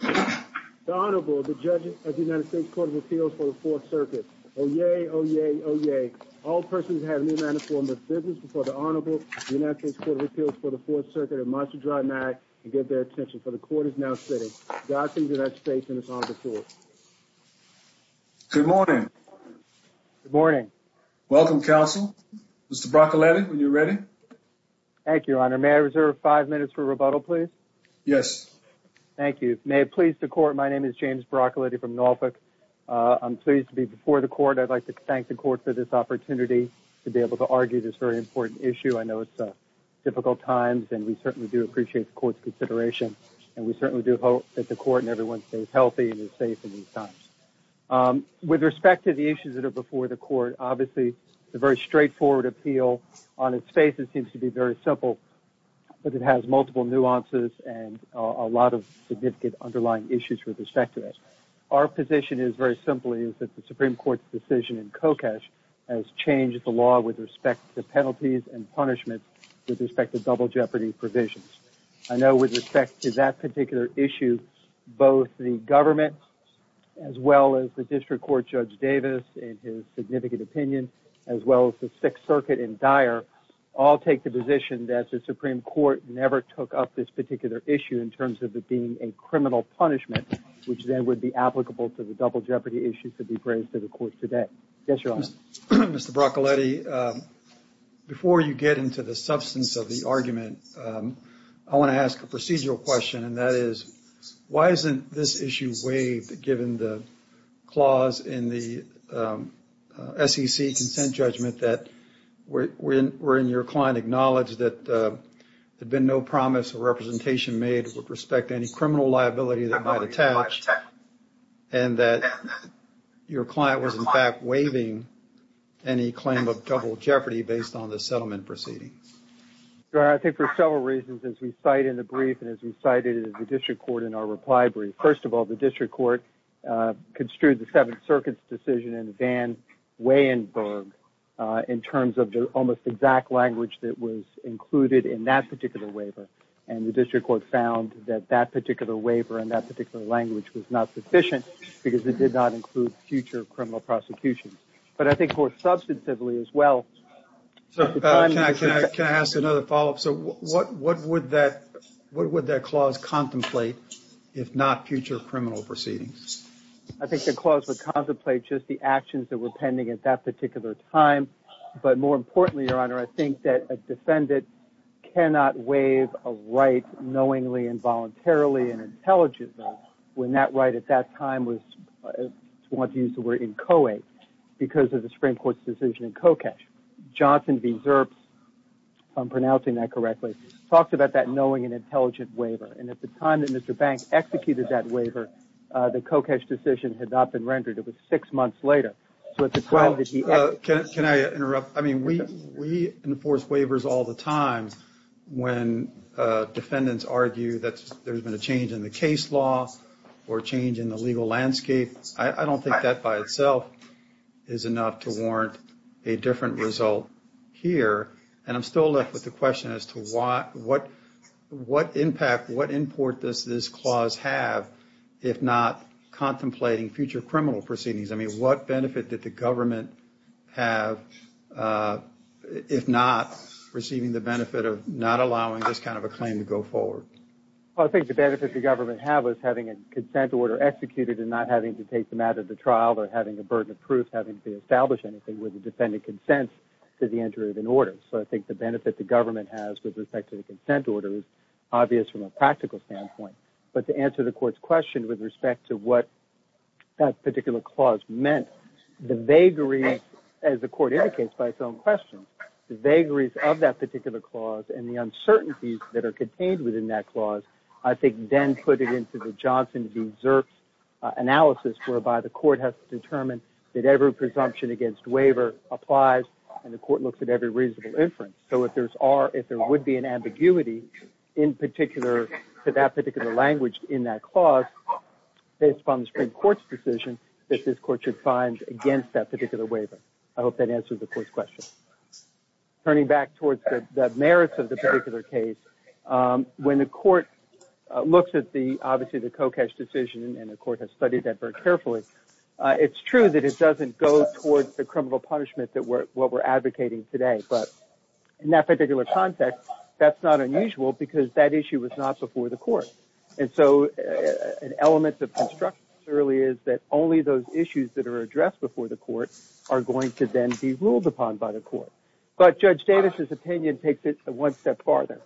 The Honorable, the Judge of the United States Court of Appeals for the Fourth Circuit. Oyez, oyez, oyez. All persons who have no manner or form of business before the Honorable of the United States Court of Appeals for the Fourth Circuit are admonished to draw an eye and give their attention, for the Court is now sitting. Godspeed to the United States and its Honorable Court. Good morning. Good morning. Welcome, Counsel. Mr. Broccoletti, when you're ready. Thank you, Your Honor. May I reserve five minutes for rebuttal, please? Yes. Thank you. May it please the Court, my name is James Broccoletti from Norfolk. I'm pleased to be before the Court. I'd like to thank the Court for this opportunity to be able to argue this very important issue. I know it's difficult times, and we certainly do appreciate the Court's consideration, and we certainly do hope that the Court and everyone stays healthy and is safe in these times. With respect to the issues that are before the Court, obviously, it's a very straightforward appeal. On its face, it seems to be very simple, but it has multiple nuances and a lot of significant underlying issues with respect to it. Our position is very simply that the Supreme Court's decision in Kokesh has changed the law with respect to penalties and punishments with respect to double jeopardy provisions. I know with respect to that particular issue, both the government, as well as the District Court Judge Davis in his significant opinion, as well as the Sixth Circuit in Dyer, all take the position that the Supreme Court never took up this particular issue in terms of it being a criminal punishment, which then would be applicable to the double jeopardy issue to be raised to the Court today. Yes, Your Honor. Mr. Broccoletti, before you get into the substance of the argument, I want to ask a procedural question. And that is, why isn't this issue waived given the clause in the SEC consent judgment that were in your client acknowledged that there had been no promise of representation made with respect to any criminal liability that might attach, and that your client was in fact waiving any claim of double jeopardy based on the settlement proceeding? Your Honor, I think for several reasons as we cite in the brief and as we cited in the District Court in our reply brief. First of all, the District Court construed the Seventh Circuit's decision in Van Weyenberg in terms of the almost exact language that was included in that particular waiver. And the District Court found that that particular waiver and that particular language was not sufficient because it did not include future criminal prosecutions. But I think more substantively as well. Can I ask another follow-up? So what would that clause contemplate if not future criminal proceedings? I think the clause would contemplate just the actions that were pending at that particular time. But more importantly, Your Honor, I think that a defendant cannot waive a right knowingly, involuntarily, and intelligently when that right at that time was, to use the word, inchoate because of the Supreme Court's decision in Kokesh. Johnson v. Zerps, if I'm pronouncing that correctly, talks about that knowing and intelligent waiver. And at the time that Mr. Banks executed that waiver, the Kokesh decision had not been rendered. It was six months later. Can I interrupt? I mean, we enforce waivers all the time when defendants argue that there's been a change in the case law or a change in the legal landscape. I don't think that by itself is enough to warrant a different result here. And I'm still left with the question as to what impact, what import does this clause have if not contemplating future criminal proceedings? I mean, what benefit did the government have, if not receiving the benefit of not allowing this kind of a claim to go forward? Well, I think the benefit the government had was having a consent order executed and not having to take them out of the trial or having a burden of proof, having to establish anything with the defendant's consent to the entry of an order. So I think the benefit the government has with respect to the consent order is obvious from a practical standpoint. But to answer the court's question with respect to what that particular clause meant, the vagaries, as the court indicates by its own questions, the vagaries of that particular clause and the uncertainties that are contained within that clause, I think then put it into the Johnson v. Zerks analysis whereby the court has to determine that every presumption against waiver applies and the court looks at every reasonable inference. So if there would be an ambiguity in particular to that particular language in that clause, based upon the Supreme Court's decision, that this court should find against that particular waiver. I hope that answers the court's question. Turning back towards the merits of the particular case, when the court looks at, obviously, the Kokesh decision, and the court has studied that very carefully, it's true that it doesn't go towards the criminal punishment that we're advocating today. But in that particular context, that's not unusual because that issue was not before the court. And so an element of construction surely is that only those issues that are addressed before the court are going to then be ruled upon by the court. But Judge Davis's opinion takes it one step farther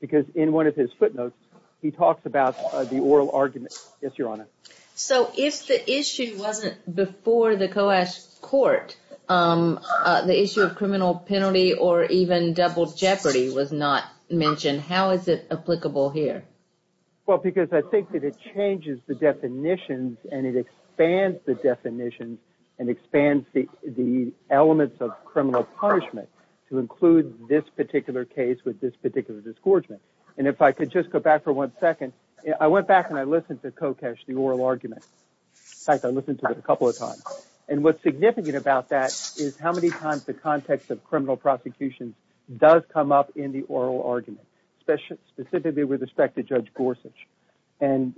because in one of his footnotes, he talks about the oral argument. Yes, Your Honor. So if the issue wasn't before the Kokesh court, the issue of criminal penalty or even double jeopardy was not mentioned, how is it applicable here? Well, because I think that it changes the definitions and it expands the definitions and expands the elements of criminal punishment to include this particular case with this particular disgorgement. And if I could just go back for one second, I went back and I listened to Kokesh, the oral argument. In fact, I listened to it a couple of times. And what's significant about that is how many times the context of criminal prosecution does come up in the oral argument, specifically with respect to Judge Gorsuch. And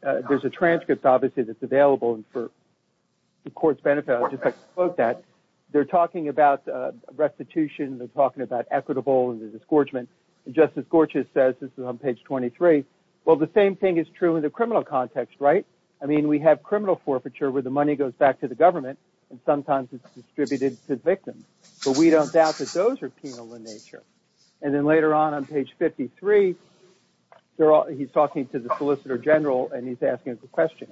there's a transcript, obviously, that's available. And for the court's benefit, I'll just quote that. They're talking about restitution. They're talking about equitable and disgorgement. And Justice Gorsuch says, this is on page 23, well, the same thing is true in the criminal context, right? I mean, we have criminal forfeiture where the money goes back to the government and sometimes it's distributed to victims. But we don't doubt that those are penal in nature. And then later on, on page 53, he's talking to the solicitor general and he's asking a question.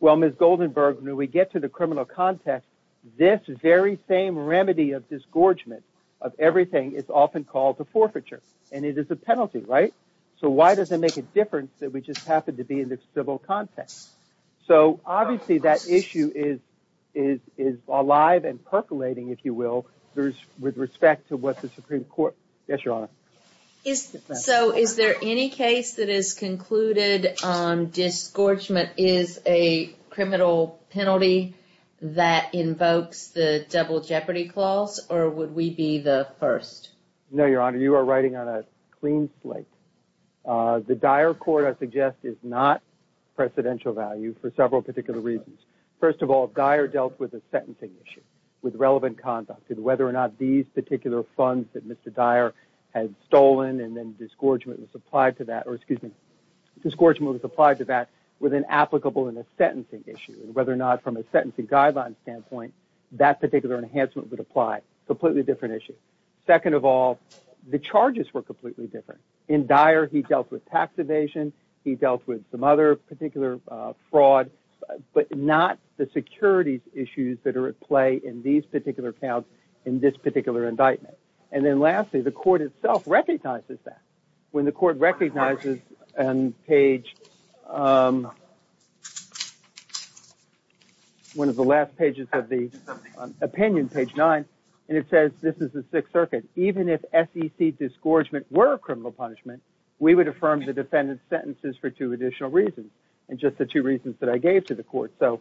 Well, Ms. Goldenberg, when we get to the criminal context, this very same remedy of disgorgement of everything is often called a forfeiture. And it is a penalty, right? So why does it make a difference that we just happen to be in the civil context? So, obviously, that issue is alive and percolating, if you will, with respect to what the Supreme Court – yes, Your Honor. So is there any case that has concluded disgorgement is a criminal penalty that invokes the Double Jeopardy Clause, or would we be the first? No, Your Honor, you are writing on a clean slate. The Dyer Court, I suggest, is not precedential value for several particular reasons. First of all, Dyer dealt with a sentencing issue with relevant conduct. And whether or not these particular funds that Mr. Dyer had stolen and then disgorgement was applied to that – or, excuse me – disgorgement was applied to that with an applicable and a sentencing issue. And whether or not, from a sentencing guideline standpoint, that particular enhancement would apply. Completely different issue. Second of all, the charges were completely different. In Dyer, he dealt with tax evasion. He dealt with some other particular fraud. But not the securities issues that are at play in these particular counts in this particular indictment. And then lastly, the Court itself recognizes that. When the Court recognizes on page – one of the last pages of the opinion, page 9, and it says this is the Sixth Circuit. Even if SEC disgorgement were a criminal punishment, we would affirm the defendant's sentences for two additional reasons. And just the two reasons that I gave to the Court. So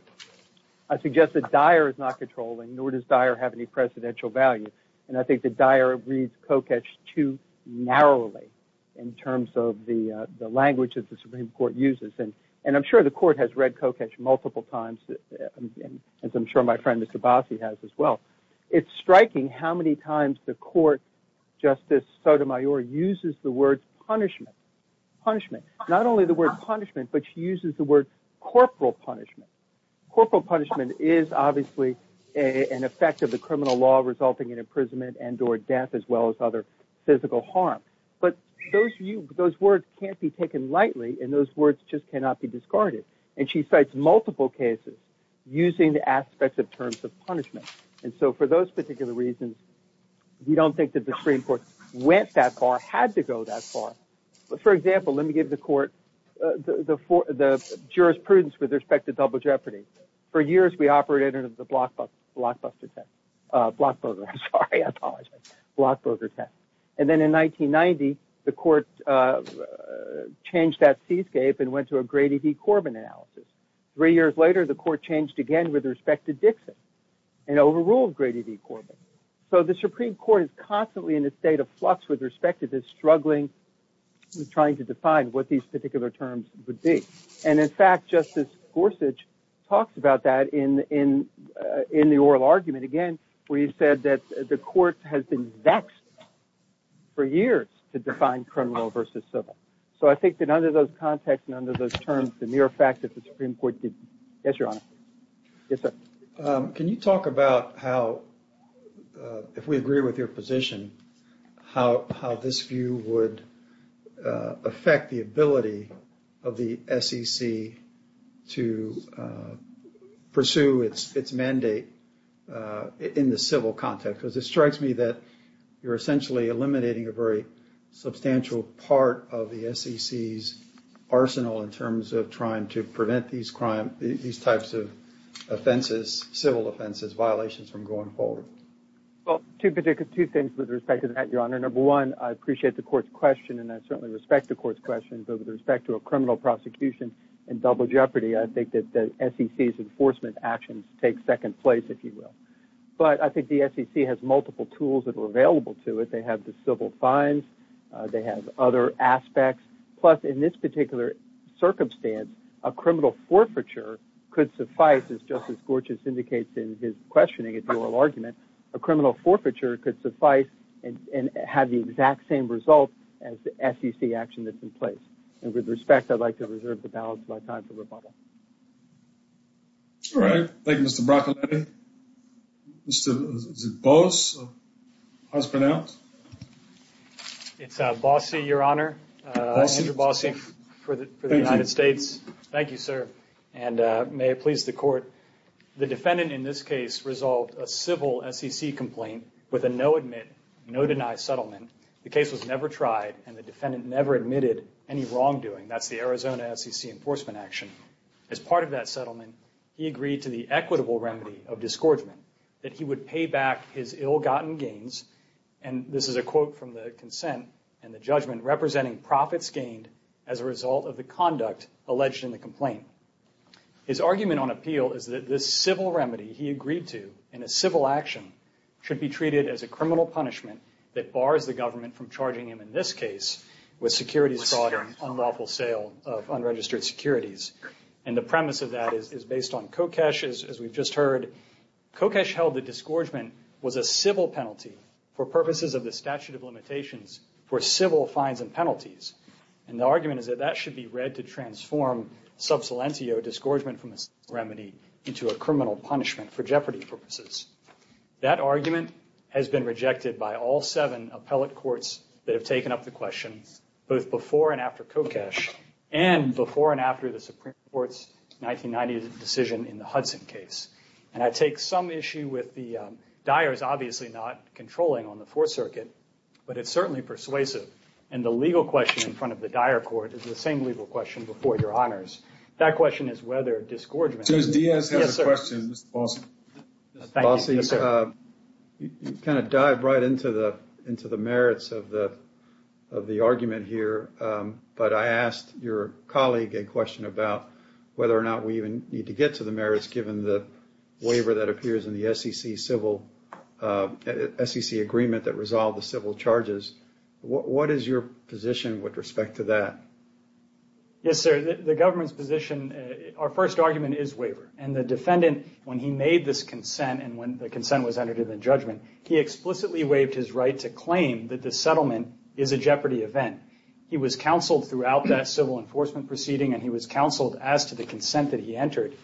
I suggest that Dyer is not controlling, nor does Dyer have any presidential value. And I think that Dyer reads Koketsch too narrowly in terms of the language that the Supreme Court uses. And I'm sure the Court has read Koketsch multiple times, as I'm sure my friend, Mr. Bassi, has as well. It's striking how many times the Court, Justice Sotomayor, uses the word punishment. Not only the word punishment, but she uses the word corporal punishment. Corporal punishment is obviously an effect of the criminal law resulting in imprisonment and or death, as well as other physical harm. But those words can't be taken lightly, and those words just cannot be discarded. And she cites multiple cases using the aspects of terms of punishment. And so for those particular reasons, we don't think that the Supreme Court went that far, had to go that far. For example, let me give the Court the jurisprudence with respect to double jeopardy. For years, we operated under the Blockbuster test. Blockburger, sorry, I apologize. Blockburger test. And then in 1990, the Court changed that seascape and went to a Grady v. Corbin analysis. Three years later, the Court changed again with respect to Dixon. And overruled Grady v. Corbin. So the Supreme Court is constantly in a state of flux with respect to this, struggling, trying to define what these particular terms would be. And in fact, Justice Gorsuch talks about that in the oral argument, again, where he said that the Court has been vexed for years to define criminal versus civil. So I think that under those contexts and under those terms, the mere fact that the Supreme Court did. Yes, Your Honor. Yes, sir. Can you talk about how, if we agree with your position, how this view would affect the ability of the SEC to pursue its mandate in the civil context? Because it strikes me that you're essentially eliminating a very substantial part of the SEC's arsenal in terms of trying to prevent these types of offenses, civil offenses, violations from going forward. Well, two things with respect to that, Your Honor. Number one, I appreciate the Court's question, and I certainly respect the Court's question. But with respect to a criminal prosecution in double jeopardy, I think that the SEC's enforcement actions take second place, if you will. But I think the SEC has multiple tools that are available to it. They have the civil fines. They have other aspects. Plus, in this particular circumstance, a criminal forfeiture could suffice, as Justice Gorsuch indicates in his questioning at the oral argument. A criminal forfeiture could suffice and have the exact same result as the SEC action that's in place. And with respect, I'd like to reserve the balance of my time for rebuttal. All right. Thank you, Mr. Broccoletti. Mr. Boss, how's it pronounced? It's Bossy, Your Honor. Andrew Bossy for the United States. Thank you, sir. And may it please the Court, the defendant in this case resolved a civil SEC complaint with a no-admit, no-deny settlement. The case was never tried, and the defendant never admitted any wrongdoing. That's the Arizona SEC enforcement action. As part of that settlement, he agreed to the equitable remedy of disgorgement, that he would pay back his ill-gotten gains, and this is a quote from the consent and the judgment, representing profits gained as a result of the conduct alleged in the complaint. His argument on appeal is that this civil remedy he agreed to in a civil action should be treated as a criminal punishment that bars the government from charging him in this case with securities fraud and unlawful sale of unregistered securities. And the premise of that is based on Kokesh, as we've just heard. Kokesh held that disgorgement was a civil penalty for purposes of the statute of limitations for civil fines and penalties. And the argument is that that should be read to transform sub salentio, disgorgement from this remedy, into a criminal punishment for jeopardy purposes. That argument has been rejected by all seven appellate courts that have taken up the question, both before and after Kokesh, and before and after the Supreme Court's 1990 decision in the Hudson case. And I take some issue with the Dyers obviously not controlling on the Fourth Circuit, but it's certainly persuasive. And the legal question in front of the Dyer court is the same legal question before your honors. That question is whether disgorgement- Yes, sir. Mr. Bossi, you kind of dive right into the merits of the argument here. But I asked your colleague a question about whether or not we even need to get to the merits, given the waiver that appears in the SEC agreement that resolved the civil charges. What is your position with respect to that? Yes, sir. The government's position, our first argument is waiver. And the defendant, when he made this consent, and when the consent was entered into the judgment, he explicitly waived his right to claim that the settlement is a jeopardy event. He was counseled throughout that civil enforcement proceeding, and he was counseled as to the consent that he entered.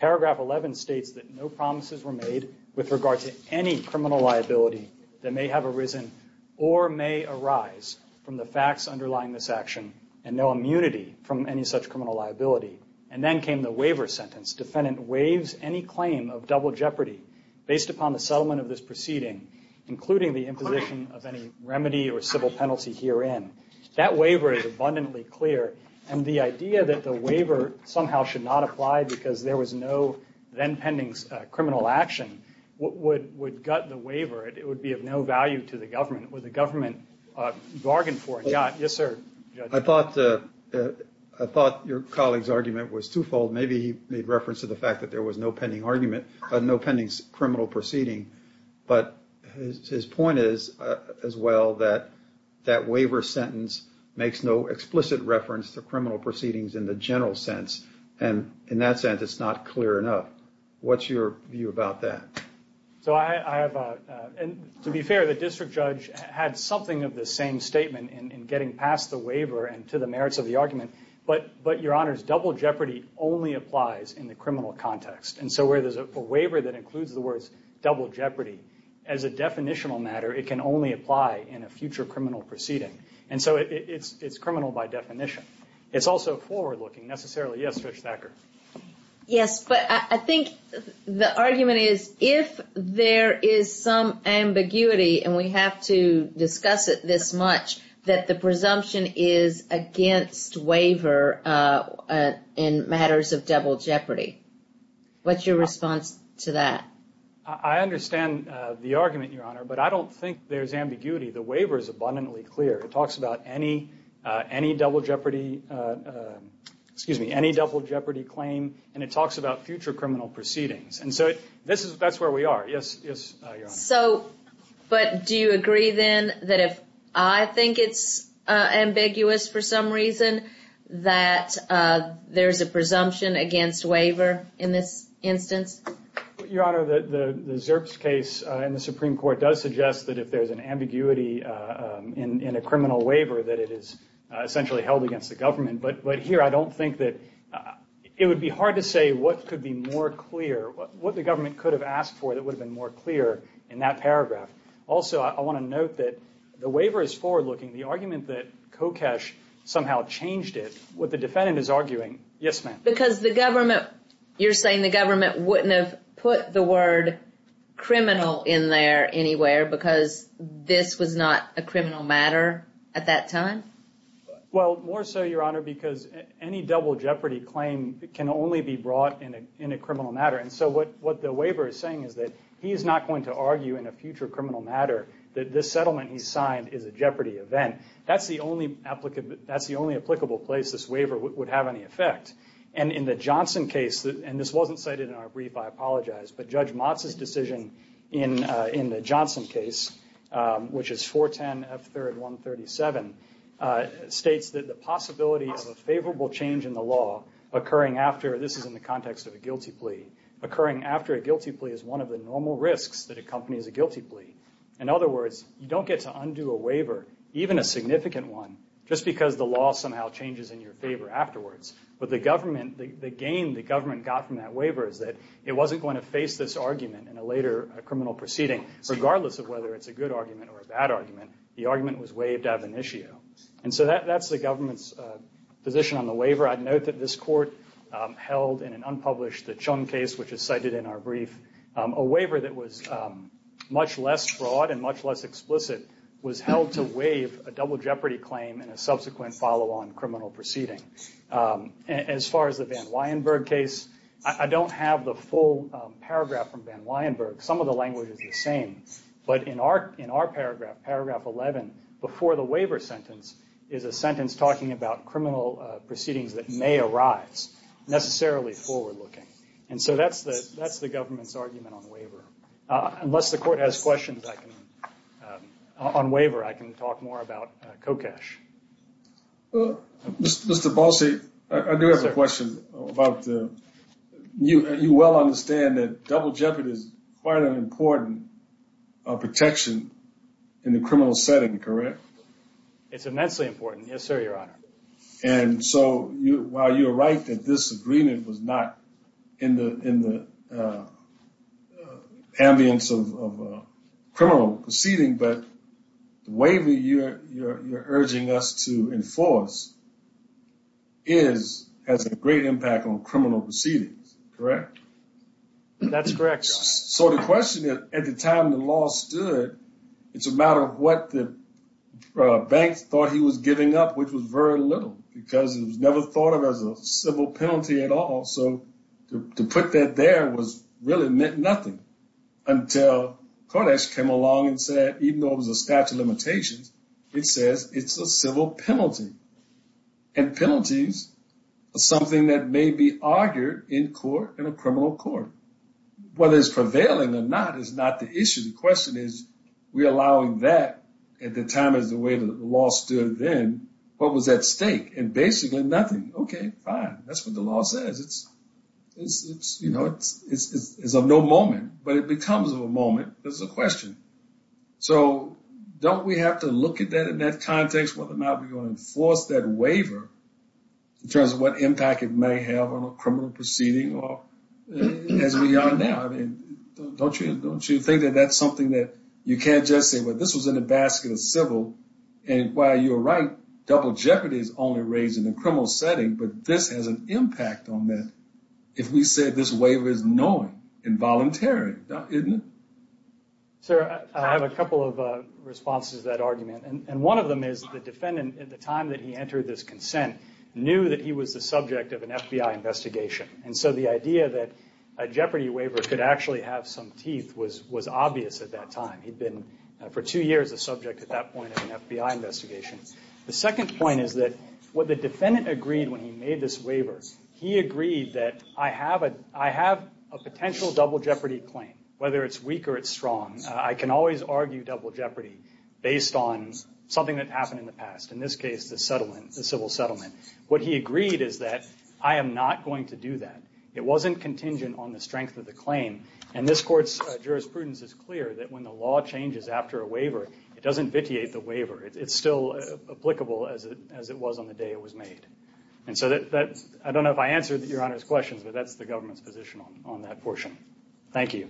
Paragraph 11 states that no promises were made with regard to any criminal liability that may have arisen or may arise from the facts underlying this action, and no immunity from any such criminal liability. And then came the waiver sentence. Defendant waives any claim of double jeopardy based upon the settlement of this proceeding, including the imposition of any remedy or civil penalty herein. That waiver is abundantly clear. And the idea that the waiver somehow should not apply because there was no then pending criminal action would gut the waiver. It would be of no value to the government. Would the government bargain for it? Yes, sir. I thought your colleague's argument was twofold. Maybe he made reference to the fact that there was no pending criminal proceeding. But his point is as well that that waiver sentence makes no explicit reference to criminal proceedings in the general sense. And in that sense, it's not clear enough. What's your view about that? To be fair, the district judge had something of the same statement in getting past the waiver and to the merits of the argument. But, Your Honors, double jeopardy only applies in the criminal context. And so where there's a waiver that includes the words double jeopardy, as a definitional matter, it can only apply in a future criminal proceeding. And so it's criminal by definition. It's also forward-looking, necessarily. Yes, Judge Thacker. Yes, but I think the argument is if there is some ambiguity, and we have to discuss it this much, that the presumption is against waiver in matters of double jeopardy. What's your response to that? I understand the argument, Your Honor, but I don't think there's ambiguity. The waiver is abundantly clear. It talks about any double jeopardy claim, and it talks about future criminal proceedings. And so that's where we are. Yes, Your Honor. But do you agree, then, that if I think it's ambiguous for some reason, that there's a presumption against waiver in this instance? Your Honor, the Zerps case in the Supreme Court does suggest that if there's an ambiguity in a criminal waiver, that it is essentially held against the government. But here I don't think that – it would be hard to say what could be more clear, what the government could have asked for that would have been more clear in that paragraph. Also, I want to note that the waiver is forward-looking. The argument that Kokesh somehow changed it, what the defendant is arguing – yes, ma'am. Because the government – you're saying the government wouldn't have put the word criminal in there anywhere because this was not a criminal matter at that time? Well, more so, Your Honor, because any double jeopardy claim can only be brought in a criminal matter. And so what the waiver is saying is that he is not going to argue in a future criminal matter that this settlement he signed is a jeopardy event. That's the only applicable place this waiver would have any effect. And in the Johnson case – and this wasn't cited in our brief, I apologize – but Judge Motz's decision in the Johnson case, which is 410 F. 3rd 137, states that the possibility of a favorable change in the law occurring after – this is in the context of a guilty plea – occurring after a guilty plea is one of the normal risks that accompanies a guilty plea. In other words, you don't get to undo a waiver, even a significant one, just because the law somehow changes in your favor afterwards. But the government – the gain the government got from that waiver is that it wasn't going to face this argument in a later criminal proceeding, regardless of whether it's a good argument or a bad argument. The argument was waived ad venitio. And so that's the government's position on the waiver. I'd note that this Court held in an unpublished – the Chung case, which is cited in our brief – a waiver that was much less broad and much less explicit was held to waive a double jeopardy claim and a subsequent follow-on criminal proceeding. As far as the Van Weyenberg case, I don't have the full paragraph from Van Weyenberg. Some of the language is the same. But in our paragraph, paragraph 11, before the waiver sentence, is a sentence talking about criminal proceedings that may arise, necessarily forward-looking. And so that's the government's argument on the waiver. Unless the Court has questions, I can – on waiver, I can talk more about COCASH. Mr. Balcy, I do have a question about – you well understand that double jeopardy is quite an important protection in the criminal setting, correct? It's immensely important, yes, sir, Your Honor. And so while you're right that this agreement was not in the ambience of a criminal proceeding, but the waiver you're urging us to enforce is – has a great impact on criminal proceedings, correct? That's correct, Your Honor. So the question is, at the time the law stood, it's a matter of what the banks thought he was giving up, which was very little because it was never thought of as a civil penalty at all. So to put that there was – really meant nothing until COCASH came along and said, even though it was a statute of limitations, it says it's a civil penalty. And penalties are something that may be argued in court in a criminal court. Whether it's prevailing or not is not the issue. The question is, we're allowing that at the time as the way the law stood then. What was at stake? And basically nothing. Okay, fine. That's what the law says. It's, you know, it's of no moment, but it becomes of a moment. That's the question. So don't we have to look at that in that context, whether or not we're going to enforce that waiver, in terms of what impact it may have on a criminal proceeding as we are now? Don't you think that that's something that you can't just say, well, this was in a basket of civil. And while you're right, double jeopardy is only raised in a criminal setting, but this has an impact on that if we say this waiver is knowing and voluntary, isn't it? Sir, I have a couple of responses to that argument, and one of them is the defendant at the time that he entered this consent knew that he was the subject of an FBI investigation. And so the idea that a jeopardy waiver could actually have some teeth was obvious at that time. He'd been for two years a subject at that point of an FBI investigation. The second point is that what the defendant agreed when he made this waiver, he agreed that I have a potential double jeopardy claim, whether it's weak or it's strong. I can always argue double jeopardy based on something that happened in the past, in this case the settlement, the civil settlement. What he agreed is that I am not going to do that. It wasn't contingent on the strength of the claim. And this Court's jurisprudence is clear that when the law changes after a waiver, it doesn't vitiate the waiver. It's still applicable as it was on the day it was made. And so I don't know if I answered Your Honor's questions, but that's the government's position on that portion. Thank you.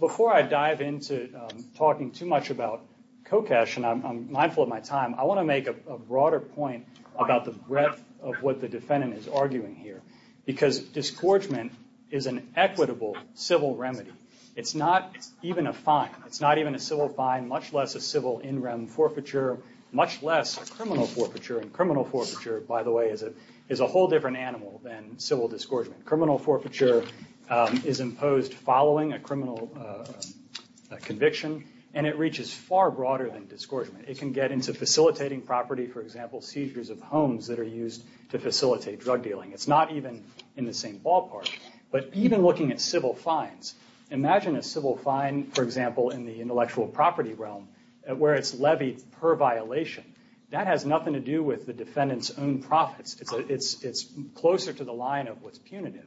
Before I dive into talking too much about COCASH, and I'm mindful of my time, I want to make a broader point about the breadth of what the defendant is arguing here. Because disgorgement is an equitable civil remedy. It's not even a fine. It's not even a civil fine, much less a civil in-rem forfeiture, much less a criminal forfeiture. And criminal forfeiture, by the way, is a whole different animal than civil disgorgement. Criminal forfeiture is imposed following a criminal conviction, and it reaches far broader than disgorgement. It can get into facilitating property, for example, seizures of homes that are used to facilitate drug dealing. It's not even in the same ballpark. But even looking at civil fines, imagine a civil fine, for example, in the intellectual property realm where it's levied per violation. That has nothing to do with the defendant's own profits. It's closer to the line of what's punitive.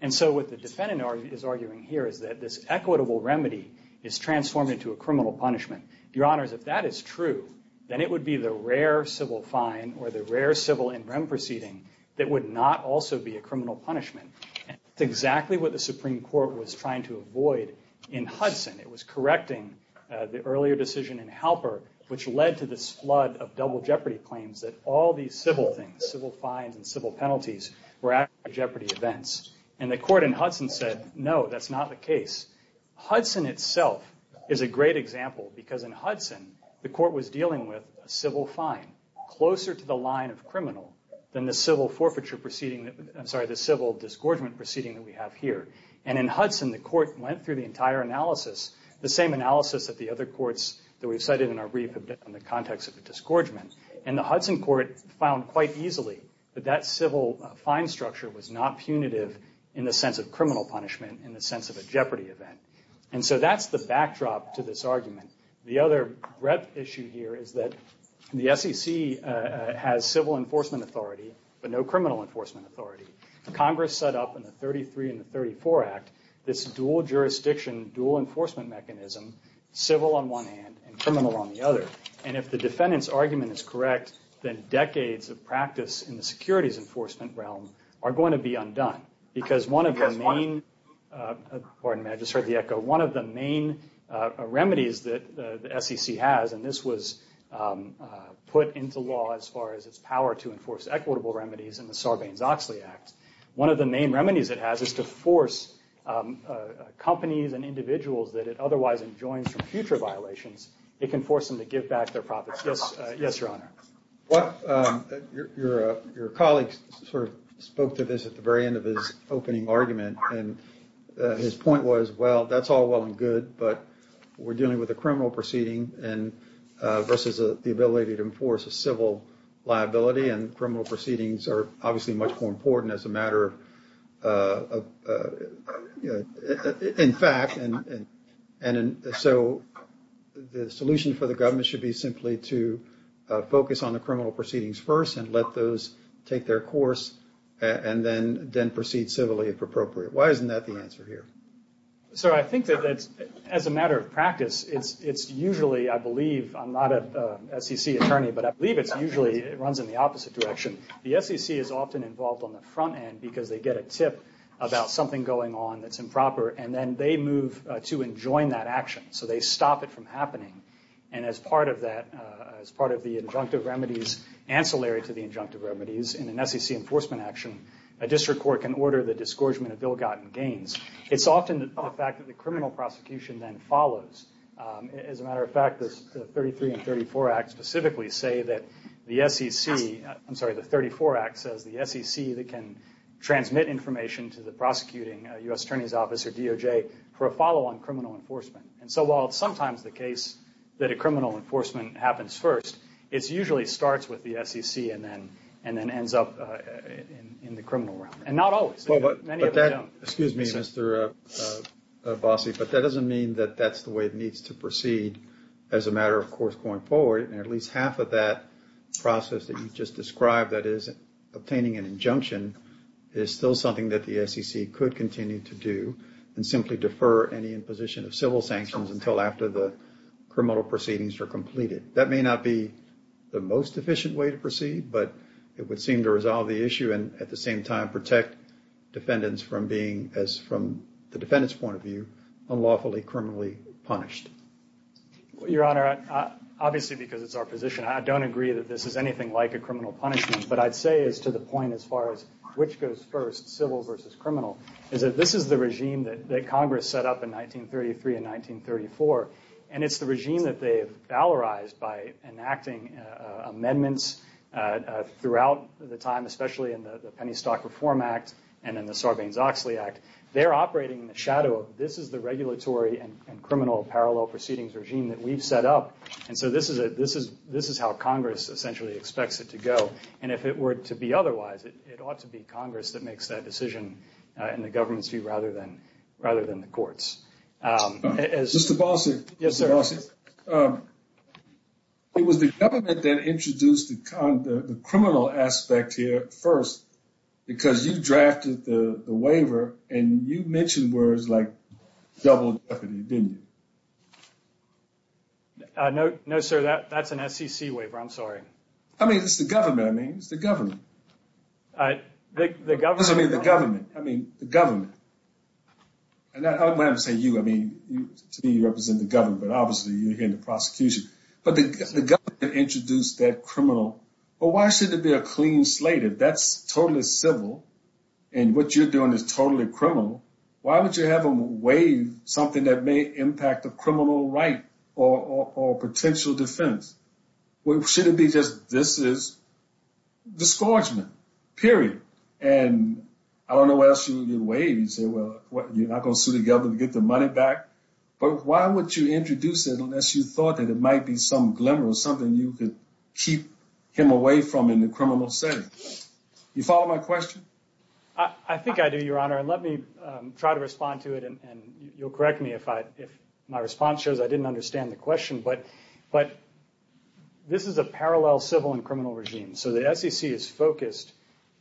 And so what the defendant is arguing here is that this equitable remedy is transformed into a criminal punishment. Your Honors, if that is true, then it would be the rare civil fine or the rare civil in-rem proceeding that would not also be a criminal punishment. That's exactly what the Supreme Court was trying to avoid in Hudson. It was correcting the earlier decision in Halper which led to this flood of double jeopardy claims that all these civil things, civil fines and civil penalties, were actually jeopardy events. And the court in Hudson said, no, that's not the case. Hudson itself is a great example because in Hudson, the court was dealing with a civil fine closer to the line of criminal than the civil forfeiture proceeding, I'm sorry, the civil disgorgement proceeding that we have here. And in Hudson, the court went through the entire analysis, the same analysis that the other courts that we've cited in our brief have done in the context of a disgorgement. And the Hudson court found quite easily that that civil fine structure was not punitive in the sense of criminal punishment, in the sense of a jeopardy event. And so that's the backdrop to this argument. The other rep issue here is that the SEC has civil enforcement authority, but no criminal enforcement authority. Congress set up in the 33 and the 34 Act this dual jurisdiction, dual enforcement mechanism, civil on one hand and criminal on the other. And if the defendant's argument is correct, then decades of practice in the securities enforcement realm are going to be undone. Because one of the main remedies that the SEC has, and this was put into law as far as its power to enforce equitable remedies in the Sarbanes-Oxley Act, one of the main remedies it has is to force companies and individuals that it otherwise enjoins from future violations, it can force them to give back their profits. Yes, Your Honor. Your colleague sort of spoke to this at the very end of his opening argument. And his point was, well, that's all well and good, but we're dealing with a criminal proceeding versus the ability to enforce a civil liability. And criminal proceedings are obviously much more important as a matter of, in fact. And so the solution for the government should be simply to focus on the criminal proceedings first and let those take their course and then proceed civilly if appropriate. Why isn't that the answer here? Sir, I think that as a matter of practice, it's usually, I believe, I'm not a SEC attorney, but I believe it's usually it runs in the opposite direction. The SEC is often involved on the front end because they get a tip about something going on that's improper. And then they move to enjoin that action. So they stop it from happening. And as part of that, as part of the injunctive remedies, ancillary to the injunctive remedies in an SEC enforcement action, a district court can order the disgorgement of ill-gotten gains. It's often the fact that the criminal prosecution then follows. As a matter of fact, the 33 and 34 Act specifically say that the SEC, I'm sorry, the 34 Act says the SEC that can transmit information to the prosecuting U.S. Attorney's Office or DOJ for a follow-on criminal enforcement. And so while it's sometimes the case that a criminal enforcement happens first, it usually starts with the SEC and then ends up in the criminal realm. And not always. Many of them don't. But that, excuse me, Mr. Bossi, but that doesn't mean that that's the way it needs to proceed as a matter of course going forward. And at least half of that process that you just described that is obtaining an injunction is still something that the SEC could continue to do and simply defer any imposition of civil sanctions until after the criminal proceedings are completed. That may not be the most efficient way to proceed, but it would seem to resolve the issue and at the same time protect defendants from being, as from the defendant's point of view, unlawfully criminally punished. Your Honor, obviously because it's our position, I don't agree that this is anything like a criminal punishment. But I'd say as to the point as far as which goes first, civil versus criminal, is that this is the regime that Congress set up in 1933 and 1934. And it's the regime that they've valorized by enacting amendments throughout the time, especially in the Penny Stock Reform Act and in the Sarbanes-Oxley Act. They're operating in the shadow of this is the regulatory and criminal parallel proceedings regime that we've set up. And so this is how Congress essentially expects it to go. And if it were to be otherwise, it ought to be Congress that makes that decision in the government's view rather than the courts. Mr. Bossert. Yes, sir. It was the government that introduced the criminal aspect here first because you drafted the waiver and you mentioned words like double jeopardy, didn't you? No, sir, that's an SEC waiver. I'm sorry. I mean, it's the government. I mean, it's the government. I mean, the government. I mean, the government. And I'm not going to say you. I mean, to me, you represent the government. Obviously, you're here in the prosecution. But the government introduced that criminal. Well, why should there be a clean slate? If that's totally civil and what you're doing is totally criminal, why would you have them waive something that may impact a criminal right or potential defense? Well, should it be just this is disgorgement, period. And I don't know what else you would waive. You say, well, you're not going to sue the government to get the money back. But why would you introduce it unless you thought that it might be some glimmer of something you could keep him away from in the criminal setting? You follow my question? I think I do, Your Honor. And let me try to respond to it. And you'll correct me if my response shows I didn't understand the question. But this is a parallel civil and criminal regime. So the SEC is focused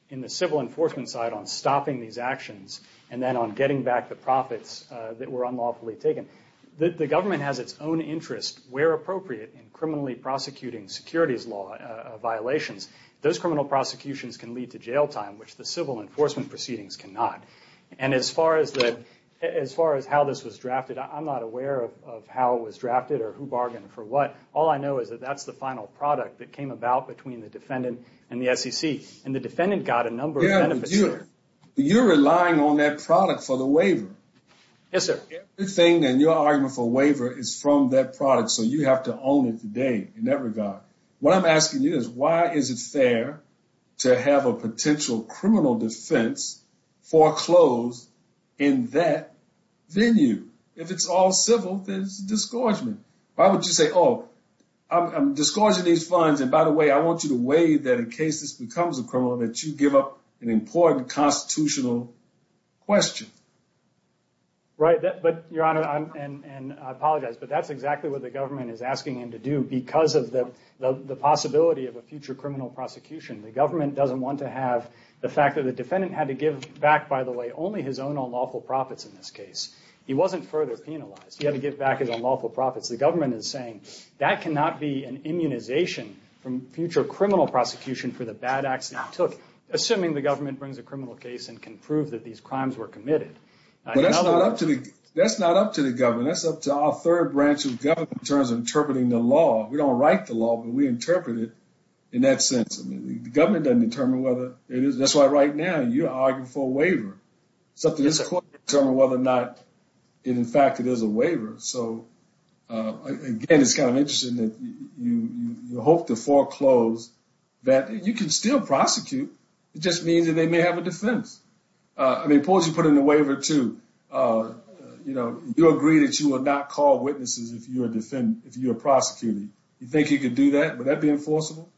in the civil enforcement side on stopping these actions and then on getting back the profits that were unlawfully taken. The government has its own interest where appropriate in criminally prosecuting securities law violations. Those criminal prosecutions can lead to jail time, which the civil enforcement proceedings cannot. And as far as how this was drafted, I'm not aware of how it was drafted or who bargained for what. All I know is that that's the final product that came about between the defendant and the SEC. And the defendant got a number of benefits. You're relying on that product for the waiver. Yes, sir. Everything in your argument for waiver is from that product. So you have to own it today in that regard. What I'm asking you is why is it fair to have a potential criminal defense foreclosed in that venue? If it's all civil, then it's a disgorgement. Why would you say, oh, I'm disgorging these funds. And by the way, I want you to weigh that in case this becomes a criminal, that you give up an important constitutional question. Right. But your honor, and I apologize, but that's exactly what the government is asking him to do because of the possibility of a future criminal prosecution. The government doesn't want to have the fact that the defendant had to give back, by the way, only his own unlawful profits in this case. He wasn't further penalized. He had to give back his unlawful profits. The government is saying that cannot be an immunization from future criminal prosecution for the bad acts that he took. Assuming the government brings a criminal case and can prove that these crimes were committed. That's not up to the government. That's up to our third branch of government in terms of interpreting the law. We don't write the law, but we interpret it in that sense. I mean, the government doesn't determine whether it is. That's why right now you're arguing for a waiver. It's up to this court to determine whether or not, in fact, it is a waiver. So, again, it's kind of interesting that you hope to foreclose that you can still prosecute. It just means that they may have a defense. I mean, suppose you put in a waiver to, you know, you agree that you will not call witnesses if you are a defendant, if you are prosecuting. You think you could do that? Would that be enforceable?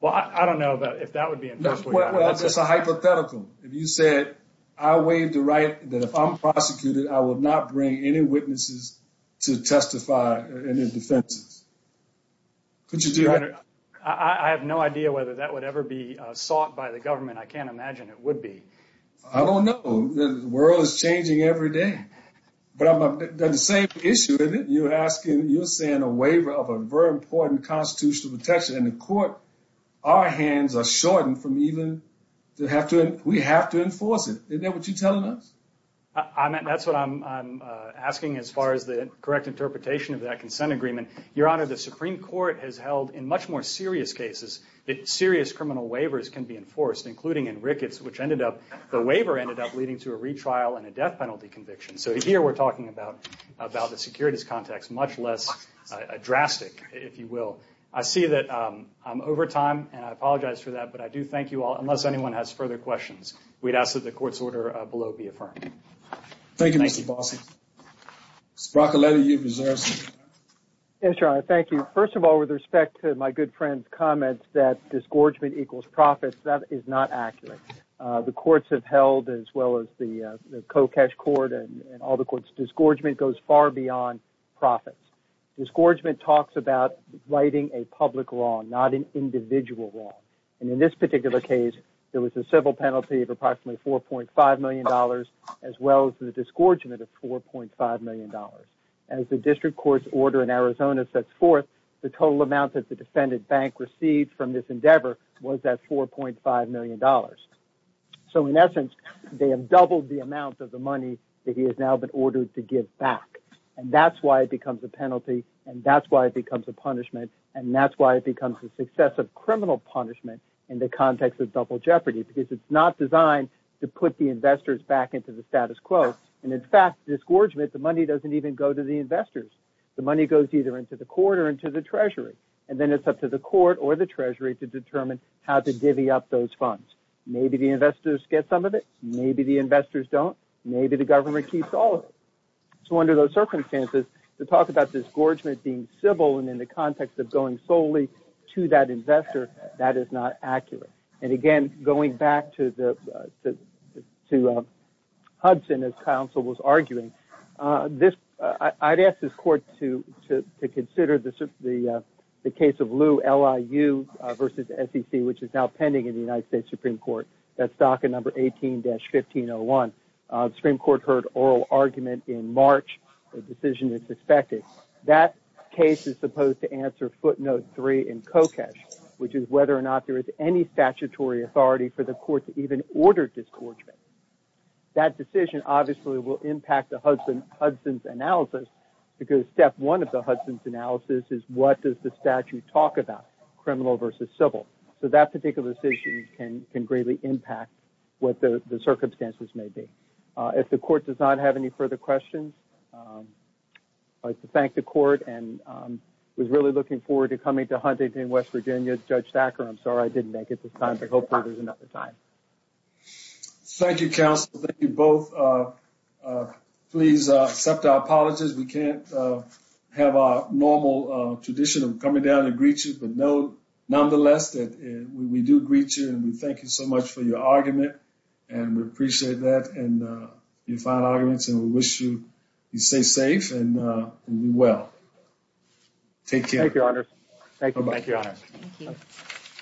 Well, I don't know if that would be enforceable. Well, that's just a hypothetical. If you said, I waive the right that if I'm prosecuted, I will not bring any witnesses to testify in their defenses. Could you do that? I have no idea whether that would ever be sought by the government. I can't imagine it would be. I don't know. The world is changing every day. But on the same issue, you're saying a waiver of a very important constitutional protection. And the court, our hands are shortened from even, we have to enforce it. Isn't that what you're telling us? That's what I'm asking as far as the correct interpretation of that consent agreement. Your Honor, the Supreme Court has held in much more serious cases that serious criminal waivers can be enforced, including in Ricketts, which ended up, the waiver ended up leading to a retrial and a death penalty conviction. So here we're talking about the securities context, much less drastic, if you will. I see that I'm over time, and I apologize for that, but I do thank you all. Unless anyone has further questions, we'd ask that the court's order below be affirmed. Thank you, Mr. Bossert. Mr. Broccoletti, you have reserved some time. Yes, Your Honor. Thank you. First of all, with respect to my good friend's comments that disgorgement equals profits, that is not accurate. The courts have held, as well as the Kokesh Court and all the courts, disgorgement goes far beyond profits. Disgorgement talks about righting a public wrong, not an individual wrong. And in this particular case, there was a civil penalty of approximately $4.5 million, as well as the disgorgement of $4.5 million. As the district court's order in Arizona sets forth, the total amount that the defendant bank received from this endeavor was that $4.5 million. So in essence, they have doubled the amount of the money that he has now been ordered to give back. And that's why it becomes a penalty. And that's why it becomes a punishment. And that's why it becomes a successive criminal punishment in the context of double jeopardy, because it's not designed to put the investors back into the status quo. And in fact, disgorgement, the money doesn't even go to the investors. The money goes either into the court or into the Treasury. And then it's up to the court or the Treasury to determine how to divvy up those funds. Maybe the investors get some of it. Maybe the investors don't. Maybe the government keeps all of it. So under those circumstances, to talk about disgorgement being civil and in the context of going solely to that investor, that is not accurate. And again, going back to Hudson, as counsel was arguing, I'd ask this court to consider the case of Liu, L-I-U versus SEC, which is now pending in the United States Supreme Court. That's docket number 18-1501. The Supreme Court heard oral argument in March. The decision is suspected. That case is supposed to answer footnote three in Kokesh, which is whether or not there is any statutory authority for the court to even order disgorgement. That decision obviously will impact the Hudson's analysis because step one of the Hudson's analysis is what does the statute talk about, criminal versus civil. So that particular decision can greatly impact what the circumstances may be. If the court does not have any further questions, I'd like to thank the court and was really looking forward to coming to Huntington, West Virginia. Judge Thacker, I'm sorry I didn't make it this time, but hopefully there's another time. Thank you, counsel. Thank you both. Please accept our apologies. We can't have our normal tradition of coming down to greet you. But nonetheless, we do greet you and we thank you so much for your argument. And we appreciate that and your fine arguments and we wish you stay safe and be well. Take care. Thank you, Your Honor. Thank you. Thank you, Your Honor.